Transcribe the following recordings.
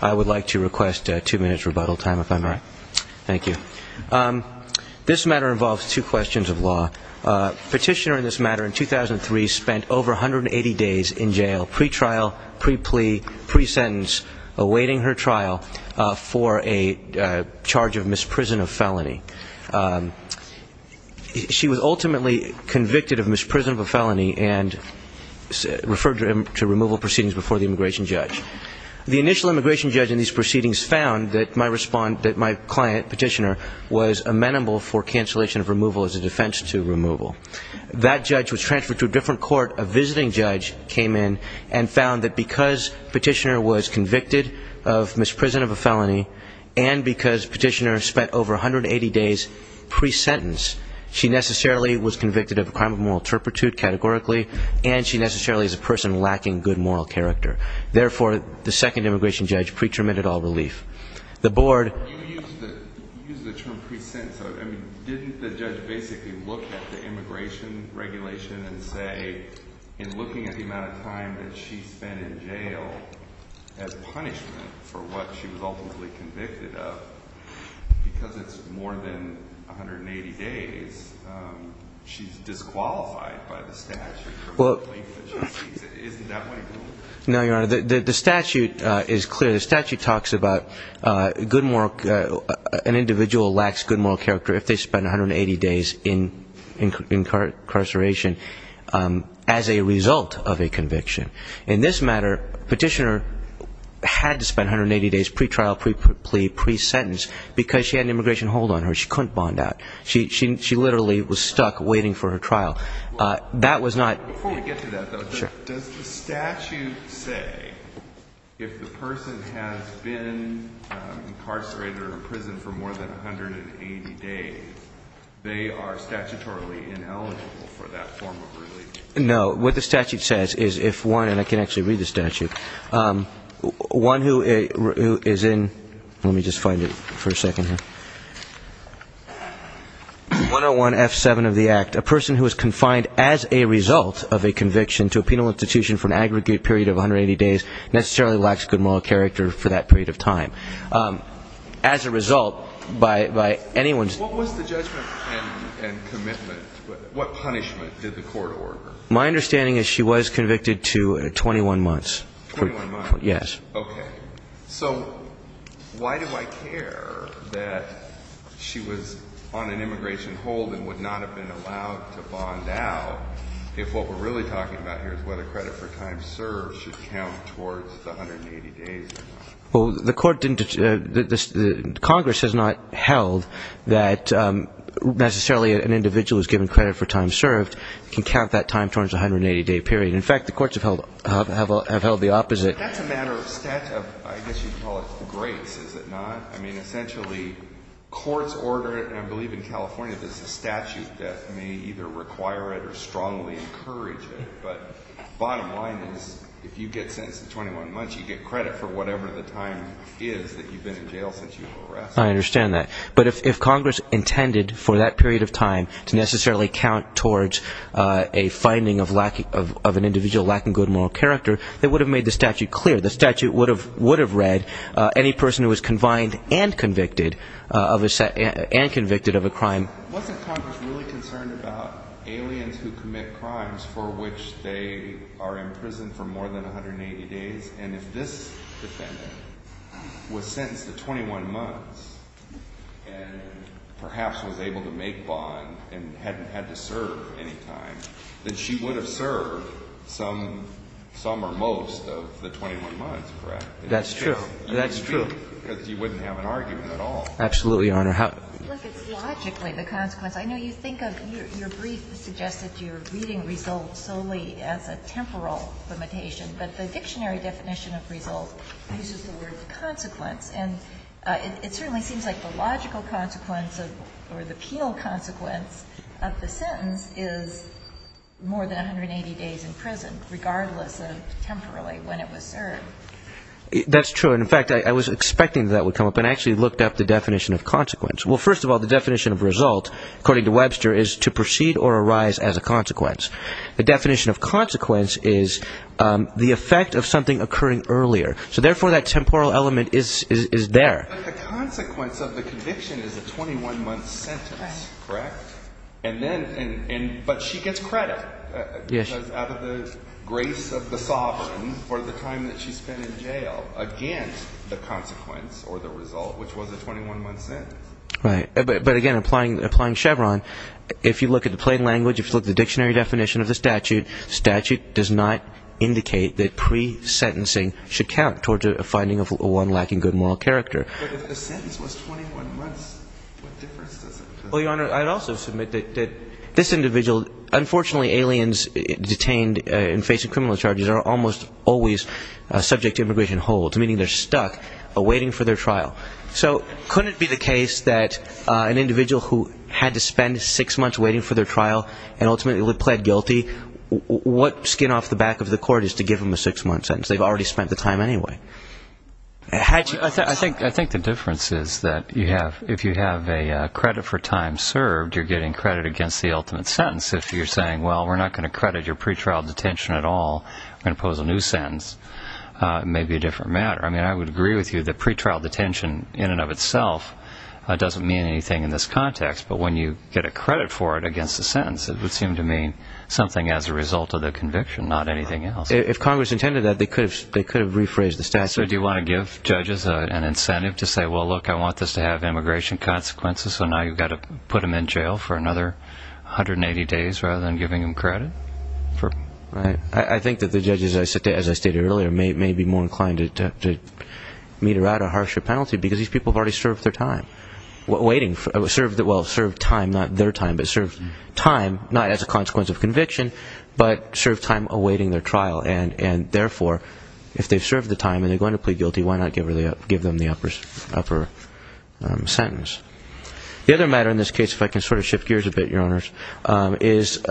I would like to request two minutes rebuttal time if I may. Thank you. This matter involves two questions of law. Petitioner in this matter in 2003 spent over 180 days in jail, pre-trial, pre-plea, pre-sentence, awaiting her trial for a charge of misprison of felony. She was ultimately convicted of misprison of felony and referred to removal proceedings before the immigration judge. The initial immigration judge in these proceedings found that my client, petitioner, was amenable for cancellation of removal as a defense to removal. That judge was transferred to a different court. A visiting judge came in and found that because petitioner was convicted of misprison of a felony and because petitioner spent over 180 days pre-sentence, she necessarily was convicted of a crime of moral turpitude categorically and she necessarily is a person lacking good moral character. Therefore, the second immigration judge pre-terminated all relief. The board... You used the term pre-sentence. Didn't the judge basically look at the immigration regulation and say in looking at the amount of time that she spent in jail as punishment for what she was ultimately convicted of, because it's more than 180 days, she's disqualified by the statute for the length that she speaks. Isn't that what he said? The statute is clear. The statute talks about an individual lacks good moral character if they spend 180 days in incarceration as a result of a conviction. In this matter, petitioner had to spend 180 days pre-trial, pre-plea, pre-sentence because she had an immigration hold on her. She couldn't bond out. She literally was stuck waiting for her trial. That was not... If the person has been incarcerated or in prison for more than 180 days, they are statutorily ineligible for that form of relief. No. What the statute says is if one... And I can actually read the statute. One who is in... Let me just find it for a second here. 101F7 of the Act. A person who is confined as a result of a conviction to a penal institution for an aggregate period of 180 days necessarily lacks good moral character for that period of time. As a result, by anyone's... What was the judgment and commitment? What punishment did the court order? My understanding is she was convicted to 21 months. 21 months? Yes. Okay. So why do I care that she was on an immigration hold and would not have been allowed to bond out if what we're really talking about here is whether credit for time served should count towards the 180 days? Well, the court didn't... Congress has not held that necessarily an individual who is given credit for time served can count that time towards the 180-day period. In fact, the courts have held the opposite. That's a matter of... I guess you'd call it grace, is it not? I mean, essentially, courts order it, and I believe in California there's a statute that may either require it or strongly encourage it, but bottom line is if you get sentenced to 21 months, you get credit for whatever the time is that you've been in jail since you were arrested. I understand that. But if Congress intended for that period of time to necessarily count towards a finding of an individual lacking good moral character, they would have made the statute clear. The statute would have read any person who was confined and convicted of a crime... Wasn't Congress really concerned about aliens who commit crimes for which they are imprisoned for more than 180 days? And if this defendant was sentenced to 21 months and perhaps was able to make bond and hadn't had to serve any time, then she would have served some or most of the 21 months, correct? That's true. That's true. Because you wouldn't have an argument at all. Absolutely, Your Honor. Look, it's logically the consequence. I know you think of your brief suggests that you're reading results solely as a temporal limitation, but the dictionary definition of result uses the word consequence. And it certainly seems like the logical consequence or the penal consequence of the sentence is more than 180 days in prison, regardless of temporally when it was served. That's true. In fact, I was expecting that would come up, and I actually looked up the definition of consequence. Well, first of all, the definition of result, according to Webster, is to proceed or arise as a consequence. The definition of consequence is the effect of something occurring earlier. So therefore, that temporal element is there. But the consequence of the conviction is a 21-month sentence, correct? But she gets credit out of the grace of the sovereign for the time that she spent in jail against the consequence or the result, which was a 21-month sentence. Right. But again, applying Chevron, if you look at the plain language, if you look at the dictionary definition of the statute, statute does not indicate that pre-sentencing should count towards a finding of one lacking good moral character. But if the sentence was 21 months, what difference does it make? Well, Your Honor, I'd also submit that this individual, unfortunately aliens detained and facing criminal charges are almost always subject to immigration holds, meaning they're stuck awaiting for their trial. So couldn't it be the case that an individual who had to spend six months waiting for their trial and ultimately pled guilty, what skin off the back of the court is to give them a six-month sentence? They've already spent the time anyway. I think the difference is that if you have a credit for time served, you're getting credit against the ultimate sentence. If you're saying, well, we're not going to credit your pretrial detention at all, we're going to impose a new sentence, it may be a different matter. I mean, I would agree with you that pretrial detention in and of itself doesn't mean anything in this context. But when you get a credit for it against the sentence, it would seem to mean something as a result of the conviction, not anything else. If Congress intended that, they could have rephrased the statute. So do you want to give judges an incentive to say, well, look, I want this to have immigration consequences, so now you've got to put them in jail for another 180 days rather than giving them credit? I think that the judges, as I stated earlier, may be more inclined to mete out a harsher penalty because these people have already served their time. Well, served time, not their time, but served time, not as a consequence of conviction, but served time awaiting their trial. And, therefore, if they've served their time and they're going to plead guilty, why not give them the upper sentence? The other matter in this case, if I can sort of shift gears a bit, Your Honors, is,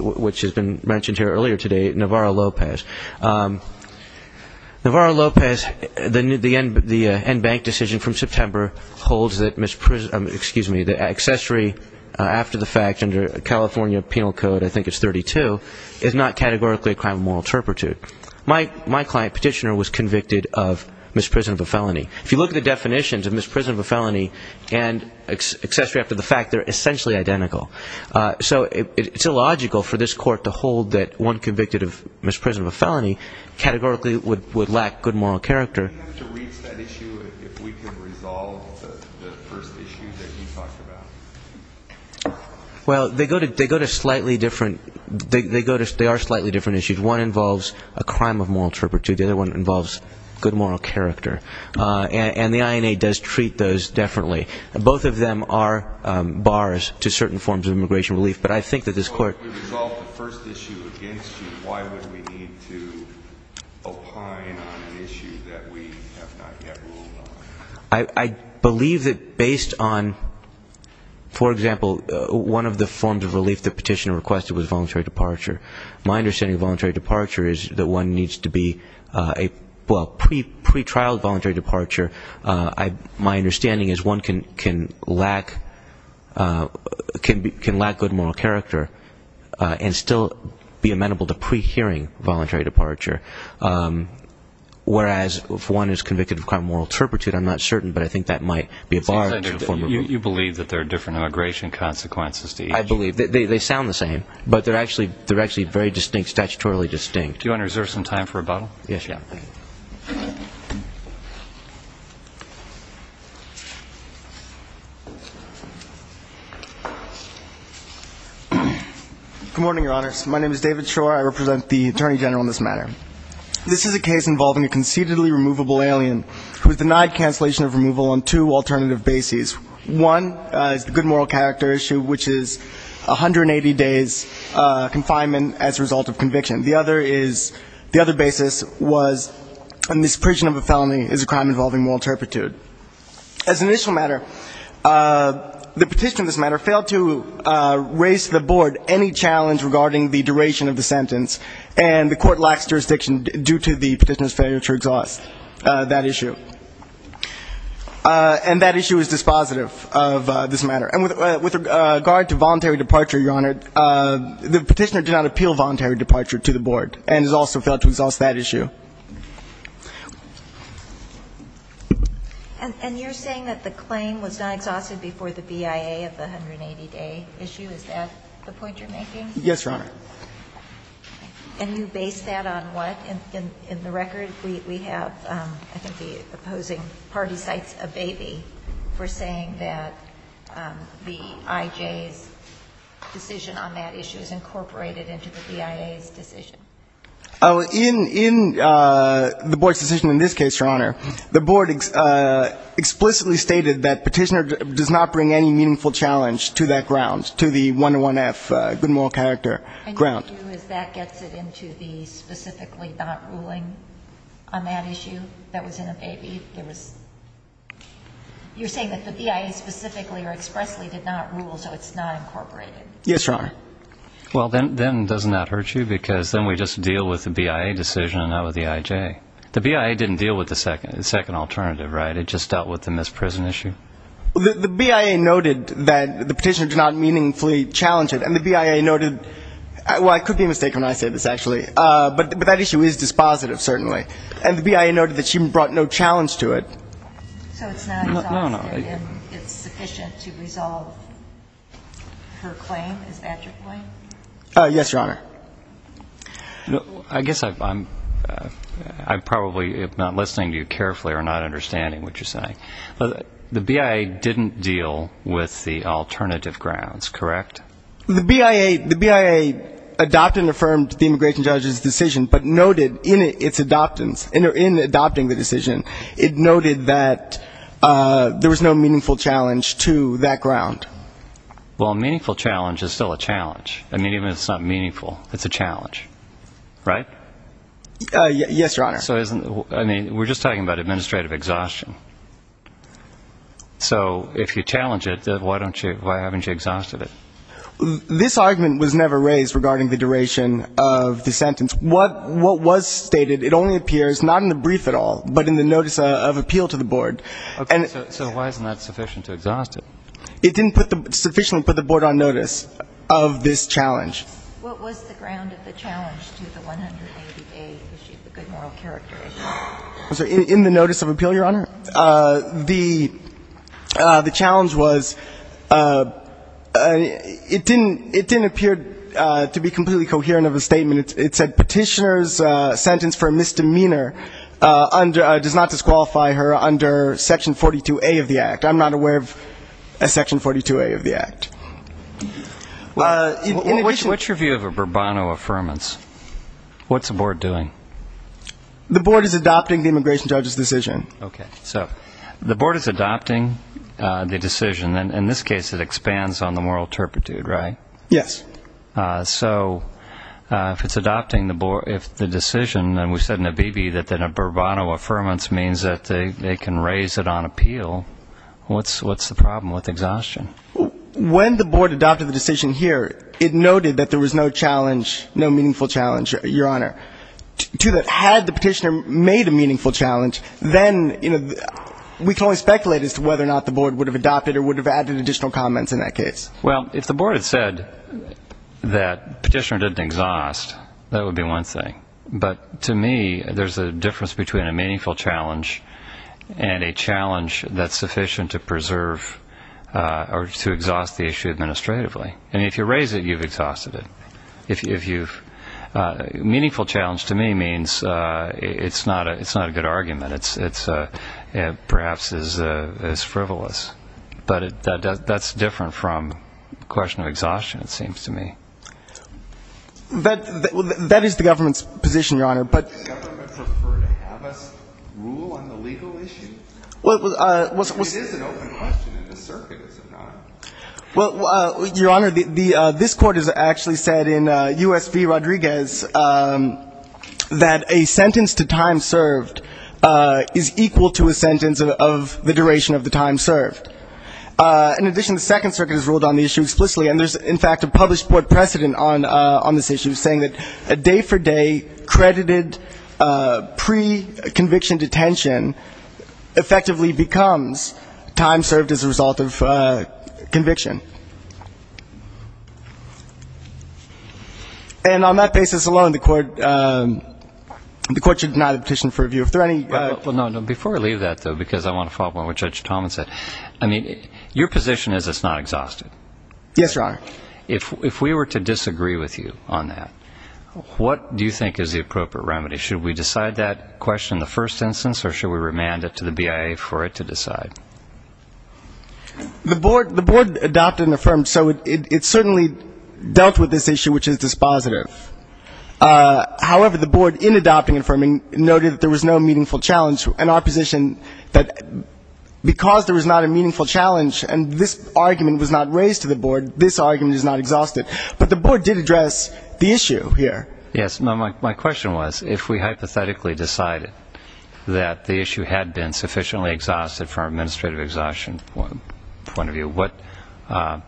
which has been mentioned here earlier today, Navarro-Lopez. Navarro-Lopez, the end bank decision from September holds that, excuse me, the accessory after the fact under California Penal Code, I think it's 32, is not categorically a crime of moral turpitude. My client, Petitioner, was convicted of misprisonment of a felony. If you look at the definitions of misprisonment of a felony and accessory after the fact, they're essentially identical. So it's illogical for this Court to hold that one convicted of misprisonment of a felony categorically would lack good moral character. Do we have to reach that issue if we could resolve the first issue that you talked about? Well, they go to slightly different, they are slightly different issues. One involves a crime of moral turpitude. The other one involves good moral character. And the INA does treat those differently. Both of them are bars to certain forms of immigration relief. But I think that this Court If we resolve the first issue against you, why would we need to opine on an issue that we have not yet ruled on? I believe that based on, for example, one of the forms of relief that Petitioner requested was voluntary departure. My understanding of voluntary departure is that one needs to be, well, pre-trialed voluntary departure. My understanding is one can lack good moral character and still be amenable to pre-hearing voluntary departure. Whereas if one is convicted of crime of moral turpitude, I'm not certain, but I think that might be a bar to a form of relief. You believe that there are different immigration consequences to each? I believe. They sound the same. But they're actually very distinct, statutorily distinct. Do you want to reserve some time for rebuttal? Yes, Your Honor. Good morning, Your Honors. My name is David Shore. I represent the Attorney General in this matter. This is a case involving a conceitedly removable alien who was denied cancellation of removal on two alternative bases. One is the good moral character issue, which is 180 days confinement as a result of conviction. The other is the other basis was in this prison of a felony is a crime involving moral turpitude. As an initial matter, the Petitioner in this matter failed to raise to the Board any challenge regarding the duration of the sentence, and the Court lacks jurisdiction due to the Petitioner's failure to exhaust that issue. And that issue is dispositive of this matter. And with regard to voluntary departure, Your Honor, the Petitioner did not appeal voluntary departure to the Board and has also failed to exhaust that issue. And you're saying that the claim was not exhausted before the BIA of the 180-day issue? Is that the point you're making? Yes, Your Honor. And you base that on what? In the record, we have, I think, the opposing party cites a baby for saying that the IJ's decision on that issue is incorporated into the BIA's decision. In the Board's decision in this case, Your Honor, the Board explicitly stated that Petitioner does not bring any meaningful challenge to that ground, to the 101-F good moral character ground. And what you do is that gets it into the specifically not ruling on that issue that was in a baby? You're saying that the BIA specifically or expressly did not rule, so it's not incorporated? Yes, Your Honor. Well, then doesn't that hurt you? Because then we just deal with the BIA decision and not with the IJ. The BIA didn't deal with the second alternative, right? It just dealt with the misprison issue? The BIA noted that the Petitioner did not meaningfully challenge it. And the BIA noted, well, I could be mistaken when I say this, actually, but that issue is dispositive, certainly. And the BIA noted that she brought no challenge to it. So it's not exhausted and it's sufficient to resolve her claim, is that your point? Yes, Your Honor. I guess I'm probably not listening to you carefully or not understanding what you're saying. The BIA didn't deal with the alternative grounds, correct? The BIA adopted and affirmed the immigration judge's decision, but noted in its adoptance, in adopting the decision, it noted that there was no meaningful challenge to that ground. Well, a meaningful challenge is still a challenge. I mean, even if it's not meaningful, it's a challenge, right? Yes, Your Honor. I mean, we're just talking about administrative exhaustion. So if you challenge it, why haven't you exhausted it? This argument was never raised regarding the duration of the sentence. What was stated, it only appears not in the brief at all, but in the notice of appeal to the board. Okay. So why isn't that sufficient to exhaust it? It didn't sufficiently put the board on notice of this challenge. What was the ground of the challenge to the 180A, the good moral character issue? In the notice of appeal, Your Honor, the challenge was it didn't appear to be completely coherent of a statement. It said petitioner's sentence for misdemeanor does not disqualify her under Section 42A of the Act. I'm not aware of a Section 42A of the Act. What's your view of a Bourbonno Affirmance? What's the board doing? The board is adopting the immigration judge's decision. Okay. So the board is adopting the decision, and in this case it expands on the moral turpitude, right? Yes. So if it's adopting the board, if the decision, and we said in the BB that a Bourbonno Affirmance means that they can raise it on appeal, what's the problem with exhaustion? When the board adopted the decision here, it noted that there was no challenge, no meaningful challenge, Your Honor, to that. Had the petitioner made a meaningful challenge, then we can only speculate as to whether or not the board would have adopted or would have added additional comments in that case. Well, if the board had said that petitioner didn't exhaust, that would be one thing. But to me, there's a difference between a meaningful challenge and a challenge that's sufficient to preserve or to exhaust the issue administratively. And if you raise it, you've exhausted it. Meaningful challenge to me means it's not a good argument. It perhaps is frivolous. But that's different from the question of exhaustion, it seems to me. That is the government's position, Your Honor. Does the government prefer to have us rule on the legal issue? It is an open question, and the circuit is not. Well, Your Honor, this court has actually said in U.S. v. Rodriguez that a sentence to time served is equal to a sentence of the duration of the time served. In addition, the Second Circuit has ruled on the issue explicitly, and there's, in fact, a published board precedent on this issue, saying that day-for-day credited pre-conviction detention effectively becomes time served as a result of time served. And on that basis alone, the court should deny the petition for review. Before I leave that, though, because I want to follow up on what Judge Thomas said, I mean, your position is it's not exhausted. Yes, Your Honor. If we were to disagree with you on that, what do you think is the appropriate remedy? Should we decide that question in the first instance, or should we remand it to the BIA for it to decide? The board adopted and affirmed, so it certainly dealt with this issue, which is dispositive. However, the board, in adopting and affirming, noted that there was no meaningful challenge, and our position that because there was not a meaningful challenge and this argument was not raised to the board, this argument is not exhausted. But the board did address the issue here. Yes, my question was, if we hypothetically decided that the issue had been sufficiently exhausted from an administrative exhaustion point of view, what's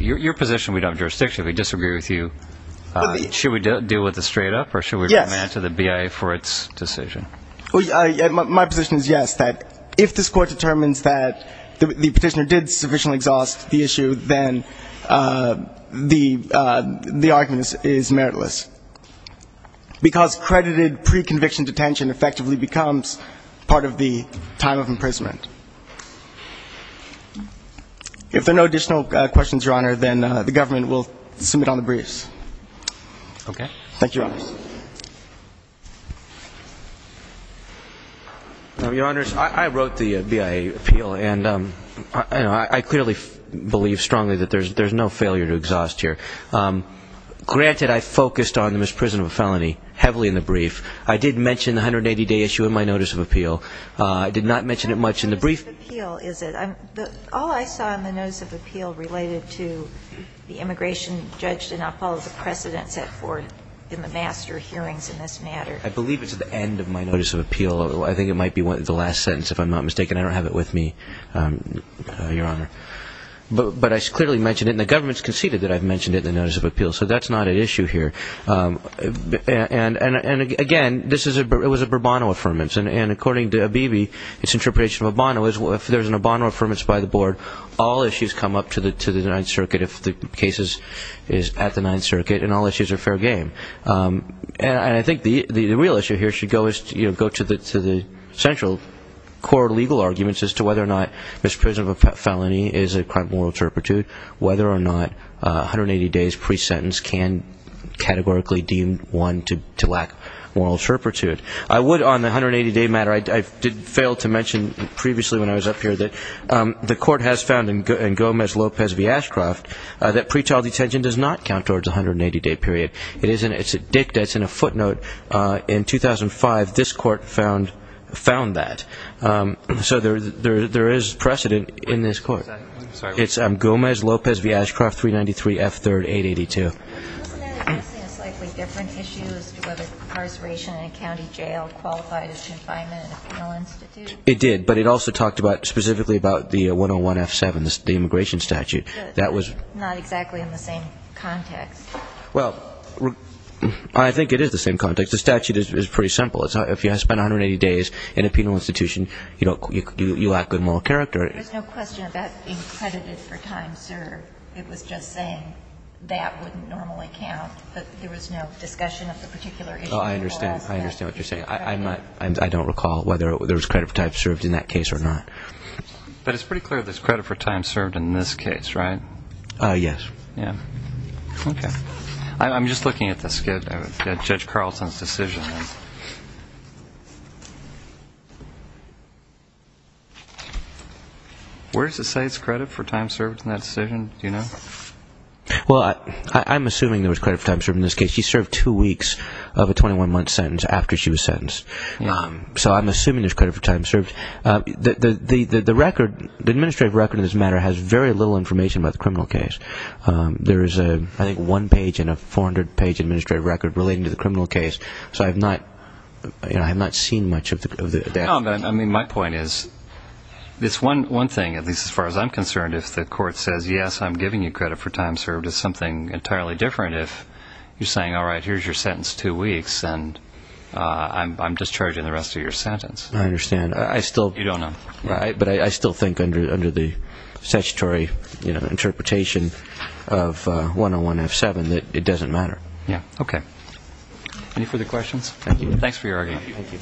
your position? We don't have jurisdiction. If we disagree with you, should we deal with it straight up, or should we remand it to the BIA for its decision? My position is yes, that if this Court determines that the Petitioner did sufficiently exhaust the issue, then the argument is meritless, because credited pre-conviction detention effectively becomes part of the time of imprisonment. If there are no additional questions, Your Honor, then the government will submit on the briefs. Okay. Thank you, Your Honor. Your Honors, I wrote the BIA appeal, and I clearly believe strongly that there's no failure to exhaust here. Granted, I focused on the misprisonment of a felony heavily in the brief. I did mention the 180-day issue in my notice of appeal. I did not mention it much in the brief. I believe it's at the end of my notice of appeal. I think it might be the last sentence, if I'm not mistaken. I don't have it with me, Your Honor. But I clearly mentioned it, and the government's conceded that I've mentioned it in the notice of appeal, so that's not an issue here. And, again, this was a Bourbonno Affirmation, and according to Abebe, it's an interpretation of a Bono. If there's a Bono Affirmation by the Board, all issues come up to the Ninth Circuit if the case is at the Ninth Circuit, and all issues are fair game. And I think the real issue here should go to the central core legal arguments as to whether or not misprisonment of a felony is a crime of moral turpitude, whether or not 180 days pre-sentence can categorically deem one to lack moral turpitude. I would, on the 180-day matter, I failed to mention previously when I was up here that the court has found in Gomez-Lopez v. Ashcroft that pretrial detention does not count towards a 180-day period. It's a dicta. It's in a footnote. In 2005, this court found that. So there is precedent in this court. It's Gomez-Lopez v. Ashcroft, 393 F. 3rd, 882. It did, but it also talked specifically about the 101 F. 7, the immigration statute. Well, I think it is the same context. The statute is pretty simple. If you spend 180 days in a penal institution, you lack good moral character. There's no question about being credited for time served. It was just saying that wouldn't normally count. But there was no discussion of the particular issue. I understand what you're saying. I don't recall whether there was credit for time served in that case or not. But it's pretty clear there's credit for time served in this case, right? Yes. Okay. I'm just looking at the skit of Judge Carlson's decision. Where does it say it's credit for time served in that decision? Do you know? Well, I'm assuming there was credit for time served in this case. She served two weeks of a 21-month sentence after she was sentenced. So I'm assuming there's credit for time served. The record, the administrative record of this matter has very little information about the criminal case. There is, I think, one page and a 400-page administrative record relating to the criminal case. So I have not seen much of the information. No, but I mean, my point is this one thing, at least as far as I'm concerned, if the court says, yes, I'm giving you credit for time served, it's something entirely different if you're saying, all right, here's your sentence, two weeks, and I'm discharging the rest of your sentence. I understand. You don't know. But I still think under the statutory interpretation of 101F7 that it doesn't matter. Yeah. Okay. Any further questions? Thank you.